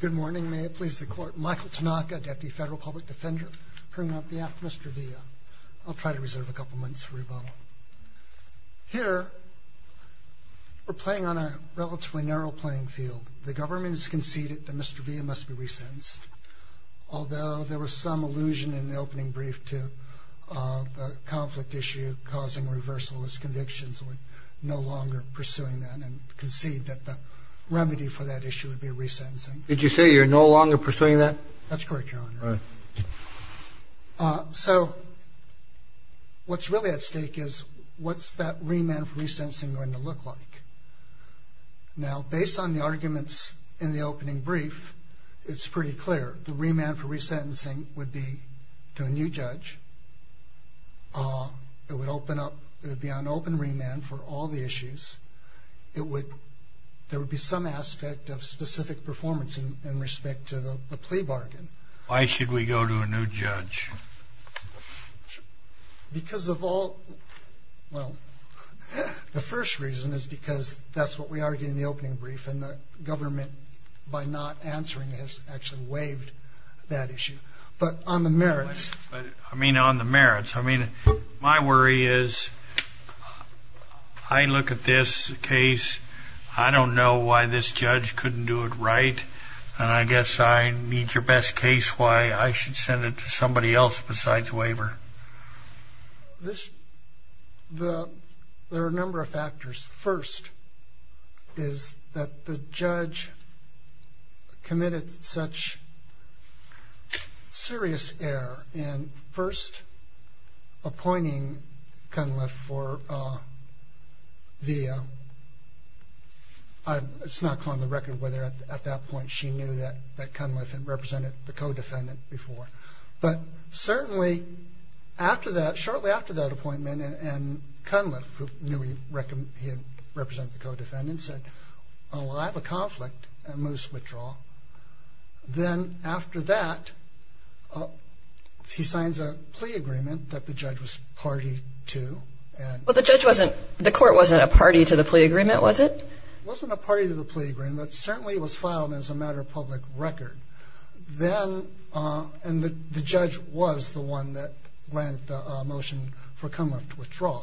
Good morning, may it please the Court. Michael Tanaka, Deputy Federal Public Defender, presenting on behalf of Mr. Villa. I'll try to reserve a couple minutes for rebuttal. Here, we're playing on a relatively narrow playing field. The government has conceded that Mr. Villa must be recensed, although there was some allusion in the opening brief to the conflict issue causing reversalist convictions. We're no longer pursuing that and concede that the remedy for that issue would be resentencing. Did you say you're no longer pursuing that? That's correct, Your Honor. All right. So what's really at stake is what's that remand for resentencing going to look like? Now, based on the arguments in the opening brief, it's pretty clear. The remand for resentencing would be to a new judge. It would be on open remand for all the issues. There would be some aspect of specific performance in respect to the plea bargain. Why should we go to a new judge? Because of all, well, the first reason is because that's what we argued in the opening brief, and the government, by not answering, has actually waived that issue. But on the merits. I mean, on the merits. I mean, my worry is I look at this case. I don't know why this judge couldn't do it right, and I guess I need your best case why I should send it to somebody else besides waiver. This, there are a number of factors. First is that the judge committed such serious error in first appointing Cunliffe for the, it's not on the record whether at that point she knew that Cunliffe had represented the co-defendant before. But certainly after that, shortly after that appointment, and Cunliffe, who knew he had represented the co-defendant, said, oh, well, I have a conflict, and moves to withdraw. Then after that, he signs a plea agreement that the judge was party to. Well, the judge wasn't, the court wasn't a party to the plea agreement, was it? It wasn't a party to the plea agreement, but certainly it was filed as a matter of public record. Then, and the judge was the one that granted the motion for Cunliffe to withdraw.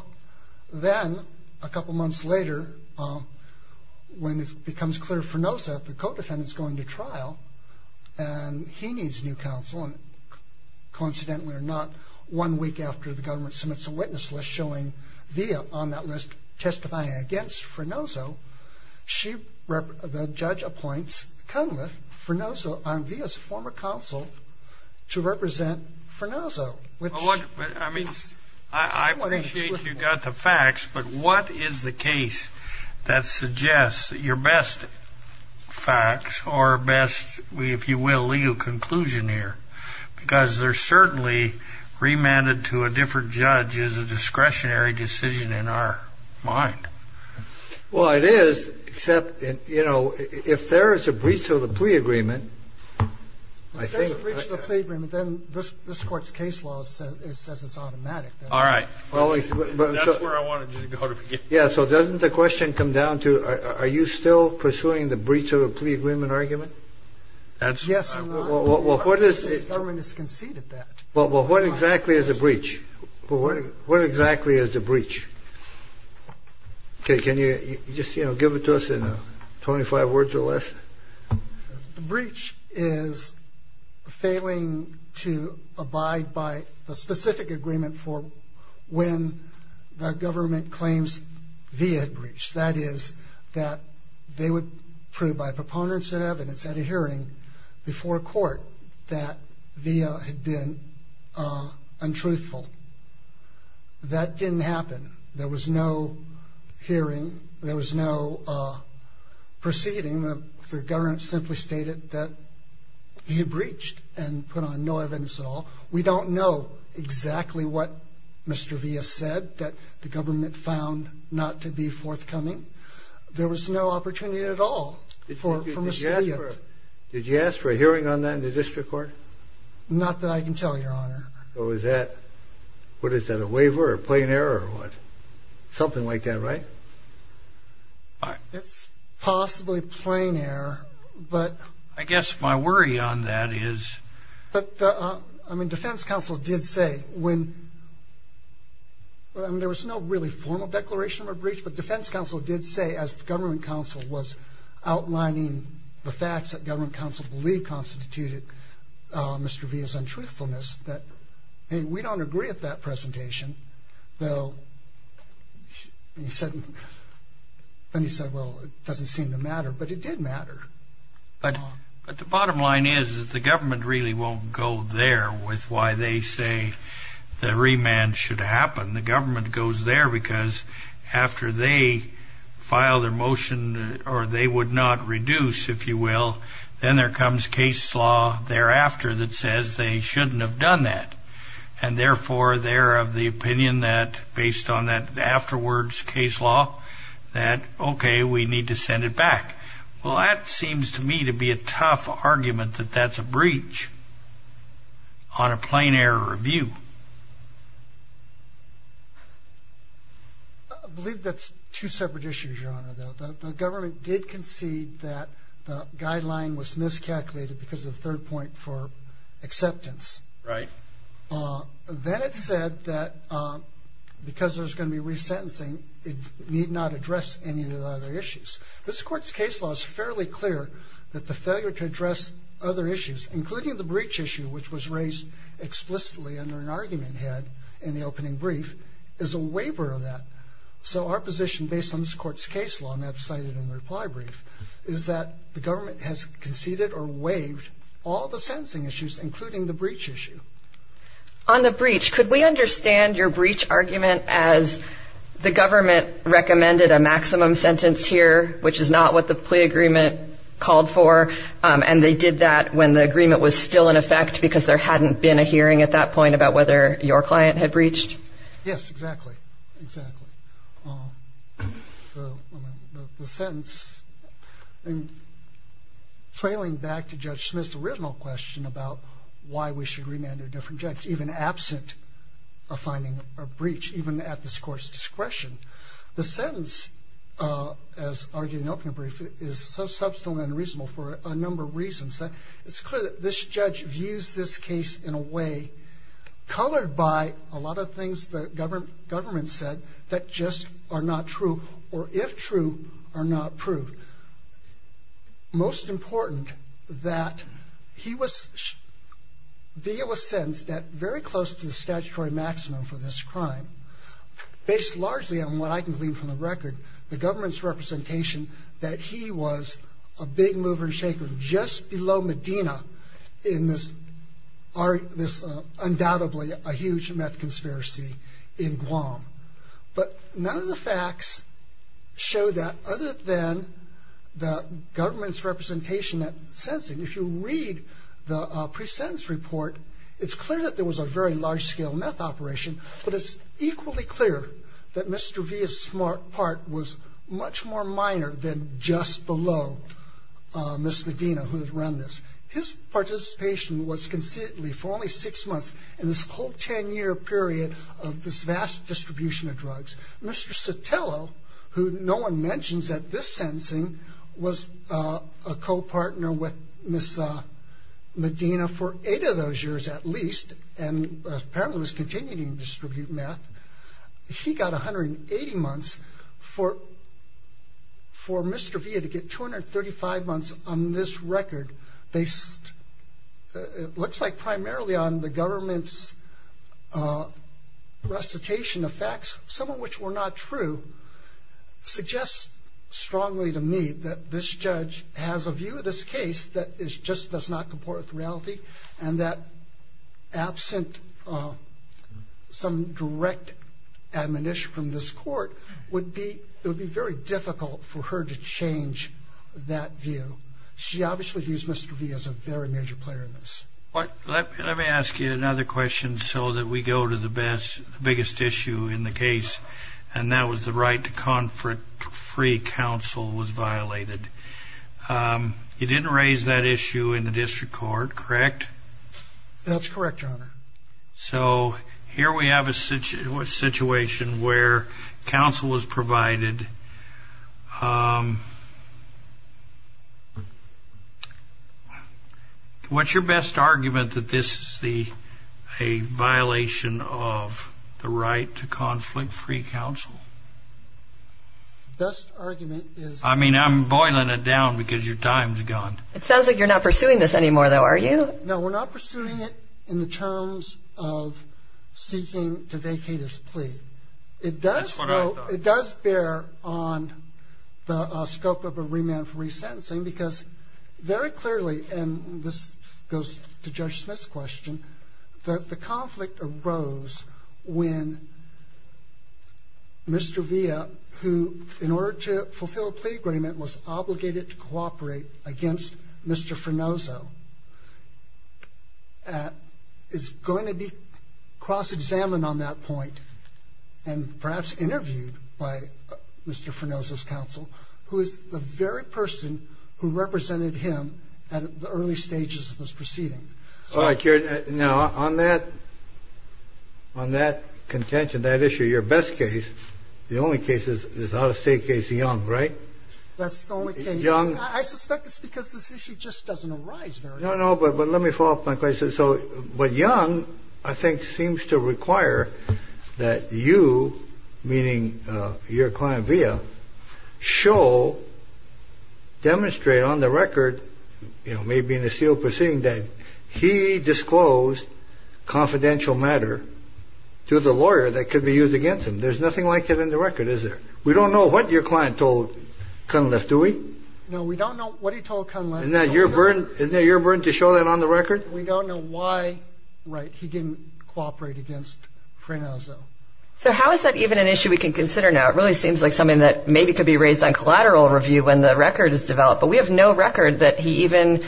Then, a couple months later, when it becomes clear Frenoso, the co-defendant, is going to trial, and he needs new counsel, and coincidentally or not, one week after the government submits a witness list showing Via on that list testifying against Frenoso, the judge appoints Cunliffe Frenoso on Via's former counsel to represent Frenoso. I mean, I appreciate you got the facts, but what is the case that suggests your best facts, or best, if you will, legal conclusion here? Because they're certainly remanded to a different judge as a discretionary decision in our mind. Well, it is, except, you know, if there is a breach of the plea agreement, I think If there's a breach of the plea agreement, then this Court's case law says it's automatic. All right. That's where I wanted you to go to begin. Yeah. So doesn't the question come down to are you still pursuing the breach of the plea agreement argument? That's Yes. Well, what is Well, what exactly is a breach? What exactly is a breach? Okay. Can you just, you know, give it to us in 25 words or less? The breach is failing to abide by the specific agreement for when the government claims Via had breached. That is, that they would prove by proponents and evidence at a hearing before court that Via had been untruthful. That didn't happen. There was no hearing. There was no proceeding. The government simply stated that he had breached and put on no evidence at all. We don't know exactly what Mr. Via said that the government found not to be forthcoming. There was no opportunity at all for Mr. Via. Did you ask for a hearing on that in the district court? Not that I can tell, Your Honor. So is that, what is that, a waiver or plain error or what? Something like that, right? It's possibly plain error, but I guess my worry on that is But the, I mean, defense counsel did say when, I mean, there was no really formal declaration of a breach, but defense counsel did say, as the government counsel was outlining the facts that government counsel believed constituted Mr. Hey, we don't agree with that presentation, though. And he said, well, it doesn't seem to matter, but it did matter. But the bottom line is that the government really won't go there with why they say the remand should happen. The government goes there because after they file their motion, or they would not reduce, if you will, then there comes case law thereafter that says they shouldn't have done that. And therefore, they're of the opinion that, based on that afterwards case law, that, okay, we need to send it back. Well, that seems to me to be a tough argument that that's a breach on a plain error review. I believe that's two separate issues, Your Honor. The government did concede that the guideline was miscalculated because of the third point for acceptance. Right. Then it said that because there's going to be resentencing, it need not address any of the other issues. This Court's case law is fairly clear that the failure to address other issues, including the breach issue, which was raised explicitly under an argument had in the opening brief, is a waiver of that. So our position, based on this Court's case law, and that's cited in the reply brief, is that the government has conceded or waived all the sentencing issues, including the breach issue. On the breach, could we understand your breach argument as the government recommended a maximum sentence here, which is not what the plea agreement called for, and they did that when the agreement was still in effect because there hadn't been a hearing at that point about whether your client had breached? Yes, exactly, exactly. The sentence, trailing back to Judge Smith's original question about why we should remand a different judge, even absent of finding a breach, even at this Court's discretion, the sentence, as argued in the opening brief, is so substantial and unreasonable for a number of reasons. It's clear that this judge views this case in a way colored by a lot of things the government said that just are not true or, if true, are not proved. Most important, that he was sentenced at very close to the statutory maximum for this crime, based largely on what I can glean from the record, the government's representation, that he was a big mover and shaker just below Medina in this undoubtedly huge meth conspiracy in Guam. But none of the facts show that, other than the government's representation at sentencing. If you read the pre-sentence report, it's clear that there was a very large-scale meth operation, but it's equally clear that Mr. V's part was much more minor than just below Ms. Medina, who had run this. His participation was considerably, for only six months, in this whole ten-year period of this vast distribution of drugs. Mr. Sotelo, who no one mentions at this sentencing, was a co-partner with Ms. Medina for eight of those years, at least, and apparently was continuing to distribute meth. He got 180 months. For Mr. Villa to get 235 months on this record, based, it looks like, primarily on the government's recitation of facts, some of which were not true, suggests strongly to me that this judge has a view of this case that just does not comport with reality and that, absent some direct admonition from this court, it would be very difficult for her to change that view. She obviously views Mr. V as a very major player in this. Let me ask you another question so that we go to the biggest issue in the case, and that was the right to confer it to free counsel was violated. You didn't raise that issue in the district court, correct? That's correct, Your Honor. So here we have a situation where counsel was provided. What's your best argument that this is a violation of the right to conflict-free counsel? Best argument is- I mean, I'm boiling it down because your time's gone. It sounds like you're not pursuing this anymore, though, are you? No, we're not pursuing it in the terms of seeking to vacate his plea. That's what I thought. It does bear on the scope of a remand for resentencing because, very clearly, and this goes to Judge Smith's question, that the conflict arose when Mr. Villa, who, in order to fulfill a plea agreement, was obligated to cooperate against Mr. Fernozzo, is going to be cross-examined on that point and perhaps interviewed by Mr. Fernozzo's counsel, who is the very person who represented him at the early stages of this proceeding. All right, Your Honor. Now, on that contention, that issue, your best case, the only case is out-of-state case, Young, right? That's the only case. Young- I suspect it's because this issue just doesn't arise very often. No, no, but let me follow up my question. But Young, I think, seems to require that you, meaning your client Villa, show, demonstrate on the record, maybe in a sealed proceeding, that he disclosed confidential matter to the lawyer that could be used against him. There's nothing like that in the record, is there? We don't know what your client told Cunliffe, do we? No, we don't know what he told Cunliffe. Isn't that your burden to show that on the record? We don't know why, right, he didn't cooperate against Fernozzo. So how is that even an issue we can consider now? It really seems like something that maybe could be raised on collateral review when the record is developed. But we have no record that he even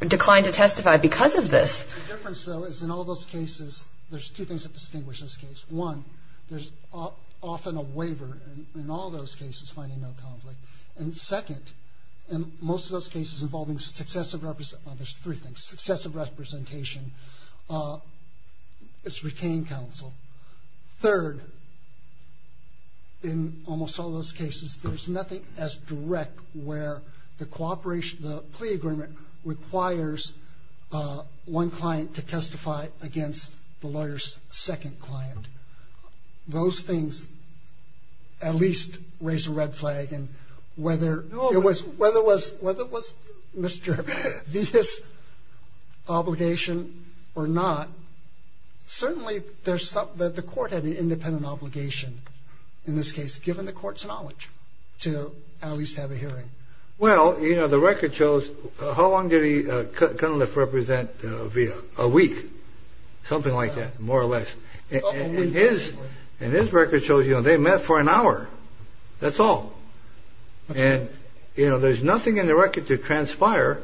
declined to testify because of this. The difference, though, is in all those cases, there's two things that distinguish this case. One, there's often a waiver in all those cases finding no conflict. And second, in most of those cases involving successive representation, there's three things, successive representation, it's retained counsel. Third, in almost all those cases, there's nothing as direct where the cooperation, the plea agreement requires one client to testify against the lawyer's second client. Those things at least raise a red flag. And whether it was Mr. Villa's obligation or not, certainly there's something that the court had an independent obligation in this case, given the court's knowledge, to at least have a hearing. Well, you know, the record shows how long did Cunliffe represent Villa? A week, something like that, more or less. And his record shows, you know, they met for an hour, that's all. And, you know, there's nothing in the record to transpire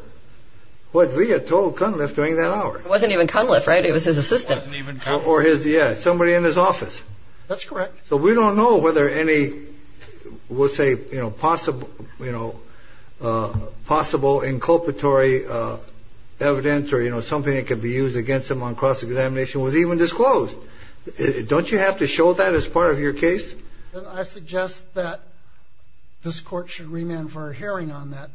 what Villa told Cunliffe during that hour. It wasn't even Cunliffe, right? It was his assistant. It wasn't even Cunliffe. Yeah, somebody in his office. That's correct. So we don't know whether any, we'll say, you know, possible, you know, possible inculpatory evidence or, you know, something that could be used against him on cross-examination was even disclosed. Don't you have to show that as part of your case? I suggest that this court should remand for a hearing on that.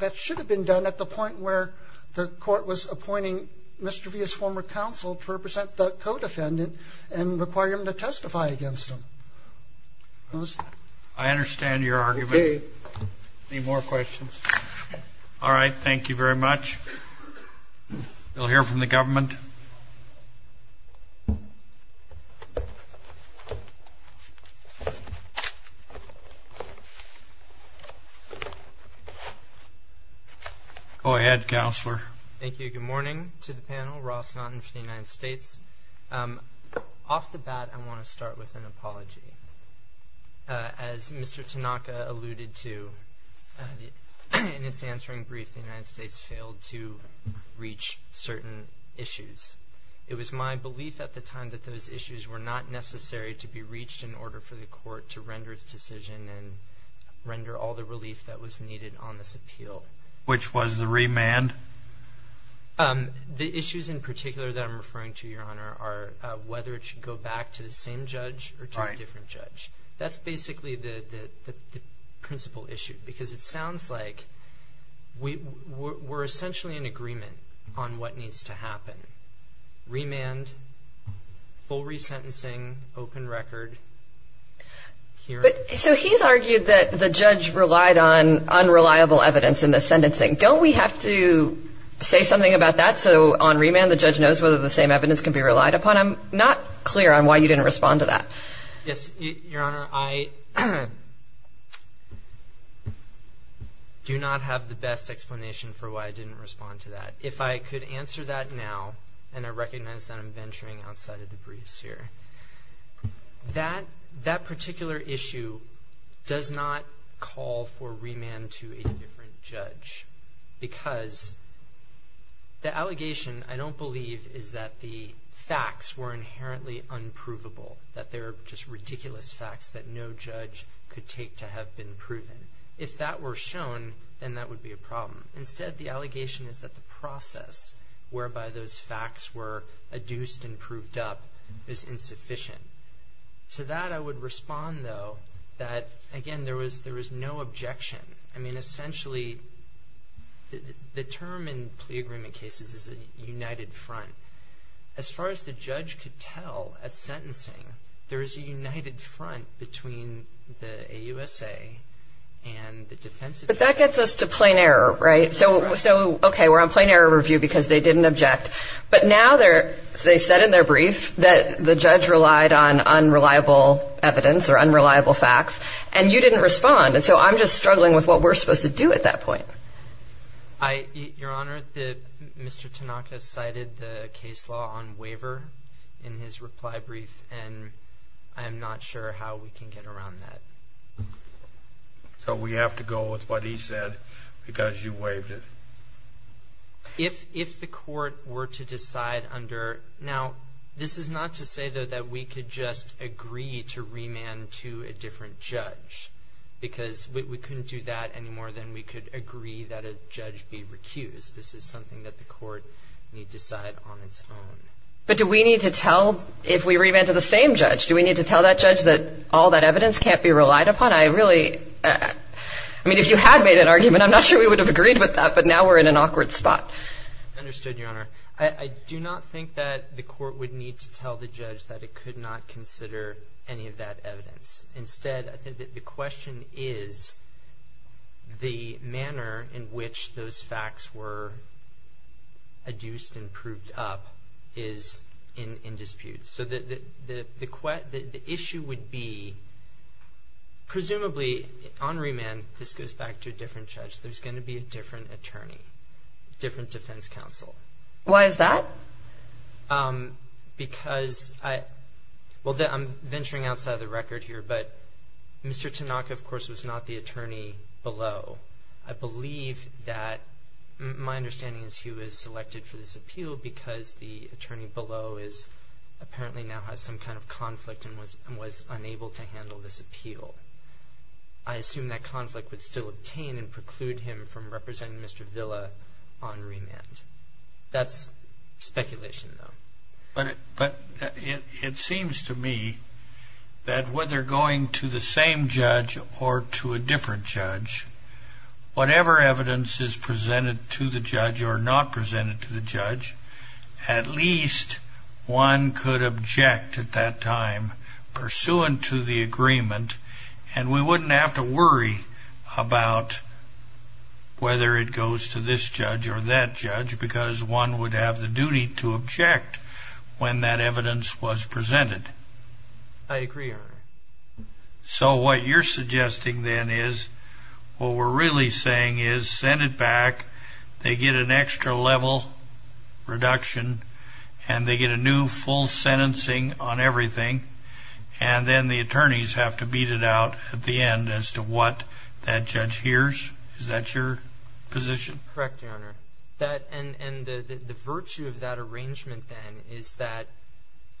That should have been done at the point where the court was appointing Mr. Villa's former counsel to represent the co-defendant and require him to testify against him. I understand your argument. Okay. Any more questions? All right. Thank you very much. We'll hear from the government. Go ahead, Counselor. Thank you. Good morning to the panel. Ross Naughton for the United States. Off the bat, I want to start with an apology. As Mr. Tanaka alluded to in his answering brief, the United States failed to reach certain issues. It was my belief at the time that those issues were not necessary to be reached in order for the court to render its decision and render all the relief that was needed on this appeal. Which was the remand? The issues in particular that I'm referring to, Your Honor, are whether it should go back to the same judge or to a different judge. That's basically the principal issue, because it sounds like we're essentially in agreement on what needs to happen. Remand, full resentencing, open record. So he's argued that the judge relied on unreliable evidence in the sentencing. Don't we have to say something about that so on remand the judge knows whether the same evidence can be relied upon? I'm not clear on why you didn't respond to that. Yes, Your Honor, I do not have the best explanation for why I didn't respond to that. If I could answer that now, and I recognize that I'm venturing outside of the briefs here. That particular issue does not call for remand to a different judge. Because the allegation, I don't believe, is that the facts were inherently unprovable. That they're just ridiculous facts that no judge could take to have been proven. If that were shown, then that would be a problem. Instead, the allegation is that the process whereby those facts were adduced and proved up is insufficient. To that, I would respond, though, that, again, there was no objection. I mean, essentially, the term in plea agreement cases is a united front. As far as the judge could tell at sentencing, there is a united front between the AUSA and the defense attorney. But that gets us to plain error, right? So, okay, we're on plain error review because they didn't object. But now they said in their brief that the judge relied on unreliable evidence or unreliable facts, and you didn't respond. And so I'm just struggling with what we're supposed to do at that point. Your Honor, Mr. Tanaka cited the case law on waiver in his reply brief, and I am not sure how we can get around that. So we have to go with what he said because you waived it? If the court were to decide under – now, this is not to say, though, that we could just agree to remand to a different judge. Because we couldn't do that any more than we could agree that a judge be recused. This is something that the court need decide on its own. But do we need to tell – if we remand to the same judge, do we need to tell that judge that all that evidence can't be relied upon? I really – I mean, if you had made an argument, I'm not sure we would have agreed with that, but now we're in an awkward spot. Understood, Your Honor. I do not think that the court would need to tell the judge that it could not consider any of that evidence. Instead, I think that the question is the manner in which those facts were adduced and proved up is in dispute. So the issue would be presumably on remand, this goes back to a different judge, there's going to be a different attorney, different defense counsel. Why is that? Because – well, I'm venturing outside of the record here, but Mr. Tanaka, of course, was not the attorney below. I believe that – my understanding is he was selected for this appeal because the attorney below is – apparently now has some kind of conflict and was unable to handle this appeal. I assume that conflict would still obtain and preclude him from representing Mr. Villa on remand. That's speculation, though. But it seems to me that whether going to the same judge or to a different judge, whatever evidence is presented to the judge or not presented to the judge, at least one could object at that time pursuant to the agreement and we wouldn't have to worry about whether it goes to this judge or that judge because one would have the duty to object when that evidence was presented. So what you're suggesting then is what we're really saying is Senate back, they get an extra level reduction, and they get a new full sentencing on everything, and then the attorneys have to beat it out at the end as to what that judge hears? Is that your position? Correct, Your Honor. And the virtue of that arrangement then is that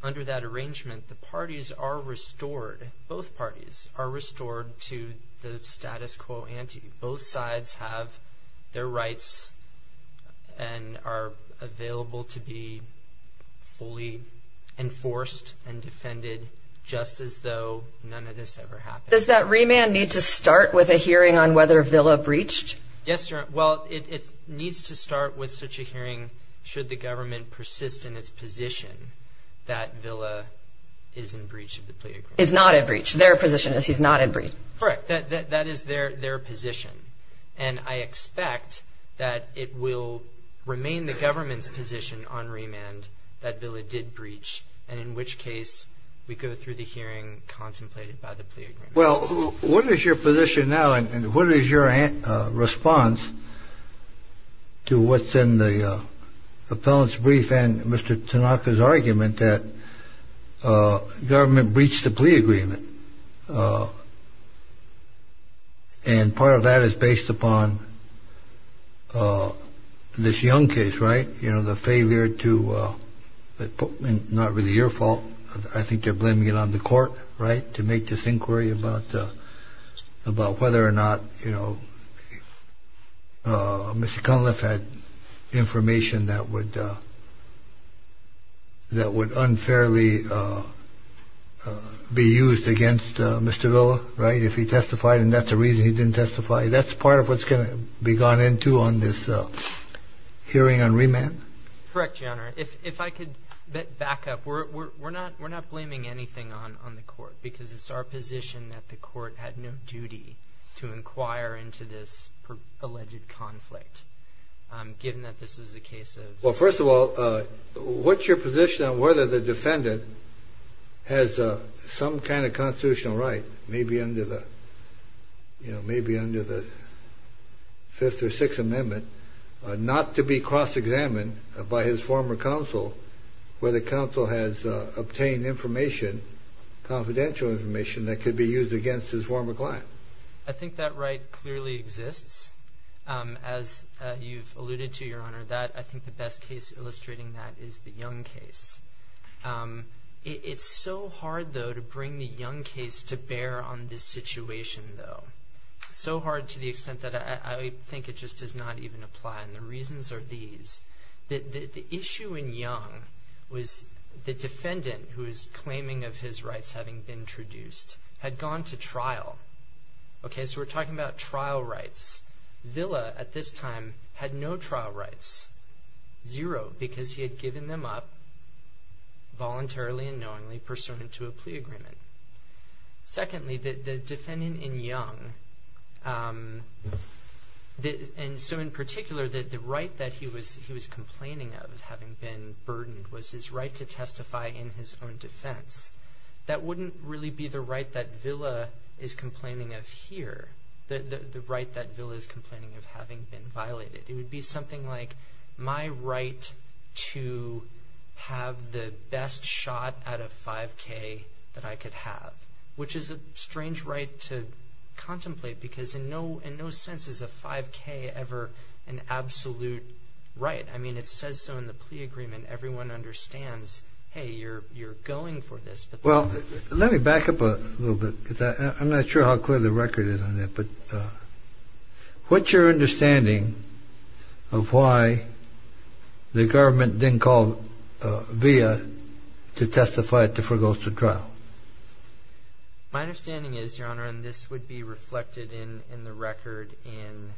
under that arrangement, the parties are restored. Both parties are restored to the status quo ante. Both sides have their rights and are available to be fully enforced and defended just as though none of this ever happened. Does that remand need to start with a hearing on whether Villa breached? Yes, Your Honor. Well, it needs to start with such a hearing should the government persist in its position that Villa is in breach of the plea agreement. Is not in breach. Their position is he's not in breach. Correct. That is their position. And I expect that it will remain the government's position on remand that Villa did breach, and in which case we go through the hearing contemplated by the plea agreement. Well, what is your position now? And what is your response to what's in the appellant's brief and Mr. Tanaka's argument that government breached the plea agreement? And part of that is based upon this Young case, right? You know, the failure to not really your fault. I think they're blaming it on the court, right, to make this inquiry about whether or not, you know, Mr. Cunliffe had information that would unfairly be used against Mr. Villa, right, if he testified. And that's the reason he didn't testify. That's part of what's going to be gone into on this hearing on remand. Correct, Your Honor. If I could back up. We're not blaming anything on the court because it's our position that the court had no duty to inquire into this alleged conflict, given that this was a case of. Well, first of all, what's your position on whether the defendant has some kind of constitutional right, you know, maybe under the Fifth or Sixth Amendment, not to be cross-examined by his former counsel, where the counsel has obtained information, confidential information that could be used against his former client? I think that right clearly exists. As you've alluded to, Your Honor, that I think the best case illustrating that is the Young case. It's so hard, though, to bring the Young case to bear on this situation, though, so hard to the extent that I think it just does not even apply, and the reasons are these. The issue in Young was the defendant, who is claiming of his rights having been introduced, had gone to trial. Okay, so we're talking about trial rights. Villa, at this time, had no trial rights, zero, because he had given them up voluntarily and knowingly, pursuant to a plea agreement. Secondly, the defendant in Young, and so in particular, the right that he was complaining of having been burdened was his right to testify in his own defense. That wouldn't really be the right that Villa is complaining of here, the right that Villa is complaining of having been violated. It would be something like my right to have the best shot out of 5K that I could have, which is a strange right to contemplate because in no sense is a 5K ever an absolute right. I mean, it says so in the plea agreement. Everyone understands, hey, you're going for this. Well, let me back up a little bit. I'm not sure how clear the record is on that, but what's your understanding of why the government didn't call Villa to testify at the foregoes to trial? My understanding is, Your Honor, and this would be reflected in the record in,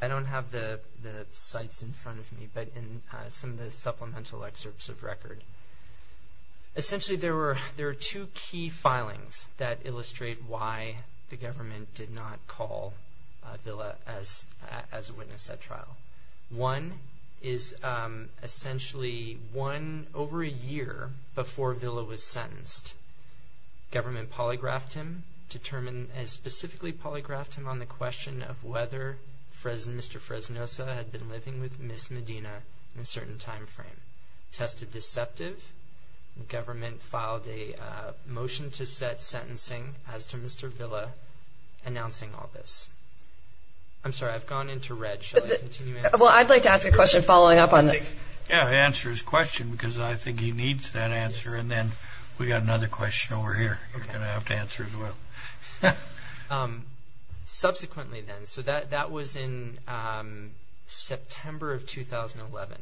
I don't have the sites in front of me, but in some of the supplemental excerpts of record. Essentially, there are two key filings that illustrate why the government did not call Villa as a witness at trial. One is essentially one over a year before Villa was sentenced, government polygraphed him, specifically polygraphed him on the question of whether Mr. Fresnosa had been living with Miss Medina in a certain time frame. Tested deceptive, government filed a motion to set sentencing as to Mr. Villa announcing all this. I'm sorry, I've gone into red. Well, I'd like to ask a question following up on this. Yeah, answer his question because I think he needs that answer, and then we've got another question over here you're going to have to answer as well. Subsequently then, so that was in September of 2011.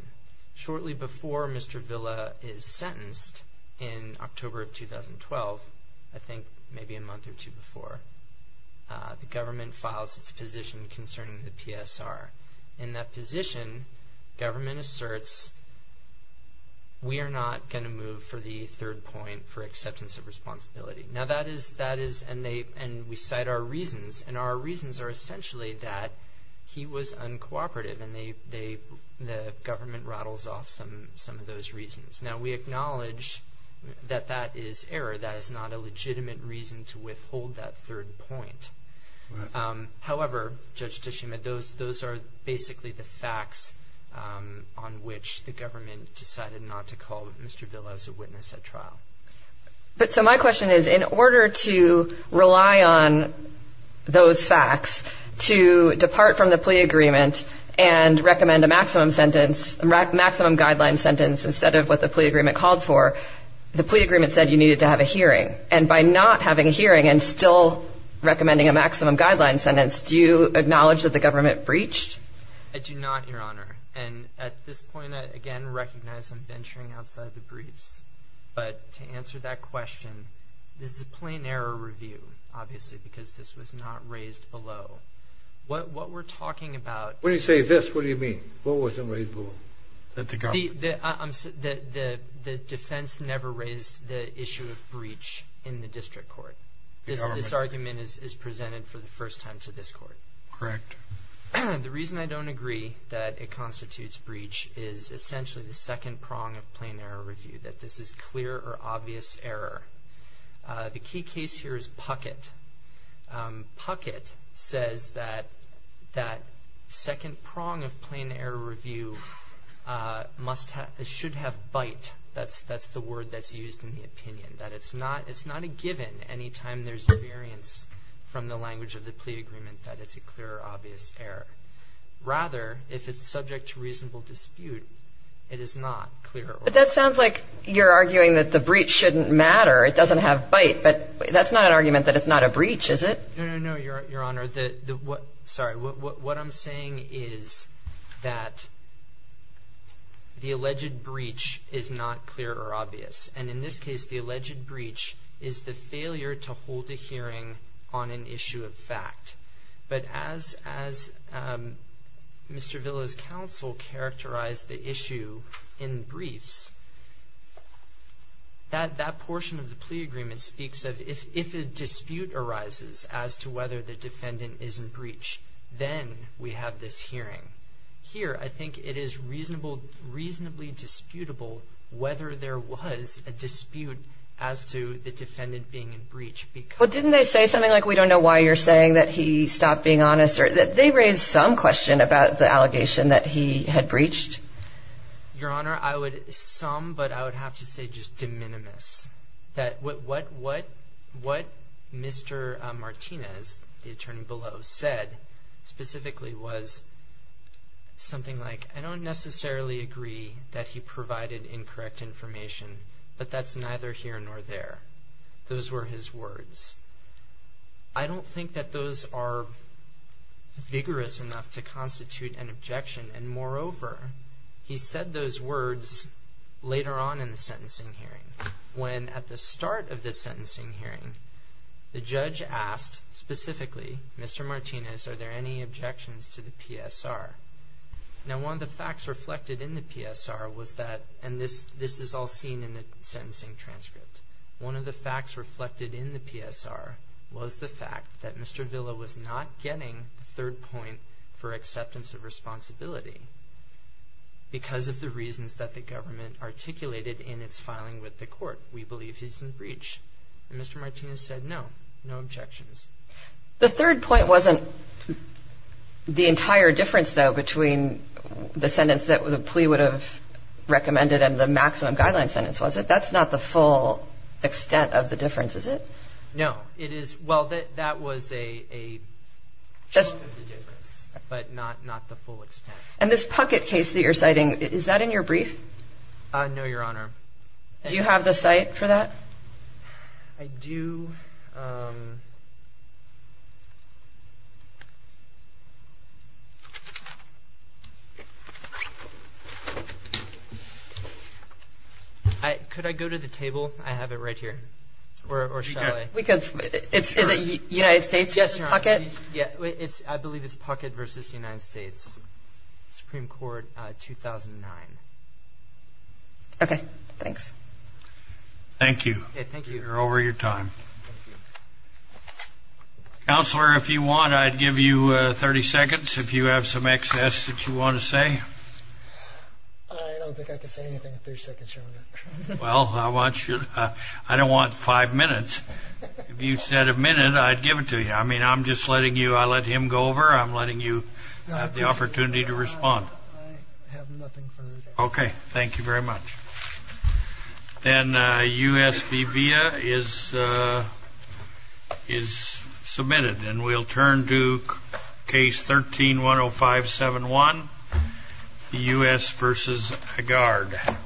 Shortly before Mr. Villa is sentenced in October of 2012, I think maybe a month or two before, the government files its position concerning the PSR. In that position, government asserts we are not going to move for the third point for acceptance of responsibility. Now, that is, and we cite our reasons, and our reasons are essentially that he was uncooperative, and the government rattles off some of those reasons. Now, we acknowledge that that is error. That is not a legitimate reason to withhold that third point. However, Judge Tishuma, those are basically the facts on which the government decided not to call Mr. Villa as a witness at trial. But so my question is, in order to rely on those facts to depart from the plea agreement and recommend a maximum sentence, maximum guideline sentence instead of what the plea agreement called for, the plea agreement said you needed to have a hearing. And by not having a hearing and still recommending a maximum guideline sentence, do you acknowledge that the government breached? I do not, Your Honor. And at this point, I again recognize I'm venturing outside the briefs. But to answer that question, this is a plain error review, obviously, because this was not raised below. What we're talking about — When you say this, what do you mean? What wasn't raised below? The defense never raised the issue of breach in the district court. This argument is presented for the first time to this court. Correct. The reason I don't agree that it constitutes breach is essentially the second prong of plain error review, that this is clear or obvious error. The key case here is Puckett. Puckett says that that second prong of plain error review should have bite. That's the word that's used in the opinion, that it's not a given any time there's a variance from the language of the plea agreement that it's a clear or obvious error. Rather, if it's subject to reasonable dispute, it is not clear or obvious. But that sounds like you're arguing that the breach shouldn't matter. It doesn't have bite. But that's not an argument that it's not a breach, is it? No, no, no, Your Honor. Sorry. What I'm saying is that the alleged breach is not clear or obvious. And in this case, the alleged breach is the failure to hold a hearing on an issue of fact. But as Mr. Villa's counsel characterized the issue in briefs, that portion of the plea agreement speaks of, if a dispute arises as to whether the defendant is in breach, then we have this hearing. Here, I think it is reasonably disputable whether there was a dispute as to the defendant being in breach. Well, didn't they say something like, we don't know why you're saying that he stopped being honest? They raised some question about the allegation that he had breached. Your Honor, I would sum, but I would have to say just de minimis, that what Mr. Martinez, the attorney below, said specifically was something like, I don't necessarily agree that he provided incorrect information, but that's neither here nor there. Those were his words. I don't think that those are vigorous enough to constitute an objection, and moreover, he said those words later on in the sentencing hearing, when at the start of the sentencing hearing, the judge asked specifically, Mr. Martinez, are there any objections to the PSR? Now, one of the facts reflected in the PSR was that, and this is all seen in the sentencing transcript, one of the facts reflected in the PSR was the fact that Mr. Villa was not getting the third point for acceptance of responsibility because of the reasons that the government articulated in its filing with the court. We believe he's in breach, and Mr. Martinez said no, no objections. The third point wasn't the entire difference, though, between the sentence that the plea would have recommended and the maximum guideline sentence, was it? That's not the full extent of the difference, is it? No. It is — well, that was a chunk of the difference, but not the full extent. And this Puckett case that you're citing, is that in your brief? No, Your Honor. Do you have the cite for that? I do. Could I go to the table? I have it right here. Or shall I? We could. Is it United States v. Puckett? Yes, Your Honor. I believe it's Puckett v. United States, Supreme Court, 2009. Okay. Thanks. Thank you. Thank you. You're over your time. Counselor, if you want, I'd give you 30 seconds, if you have some excess that you want to say. I don't think I can say anything in 30 seconds, Your Honor. Well, I don't want five minutes. If you said a minute, I'd give it to you. I mean, I'm just letting you — I let him go over, I'm letting you have the opportunity to respond. I have nothing further to say. Okay. Thank you very much. And U.S. v. Villa is submitted. And we'll turn to Case 13-10571, the U.S. v. Agard.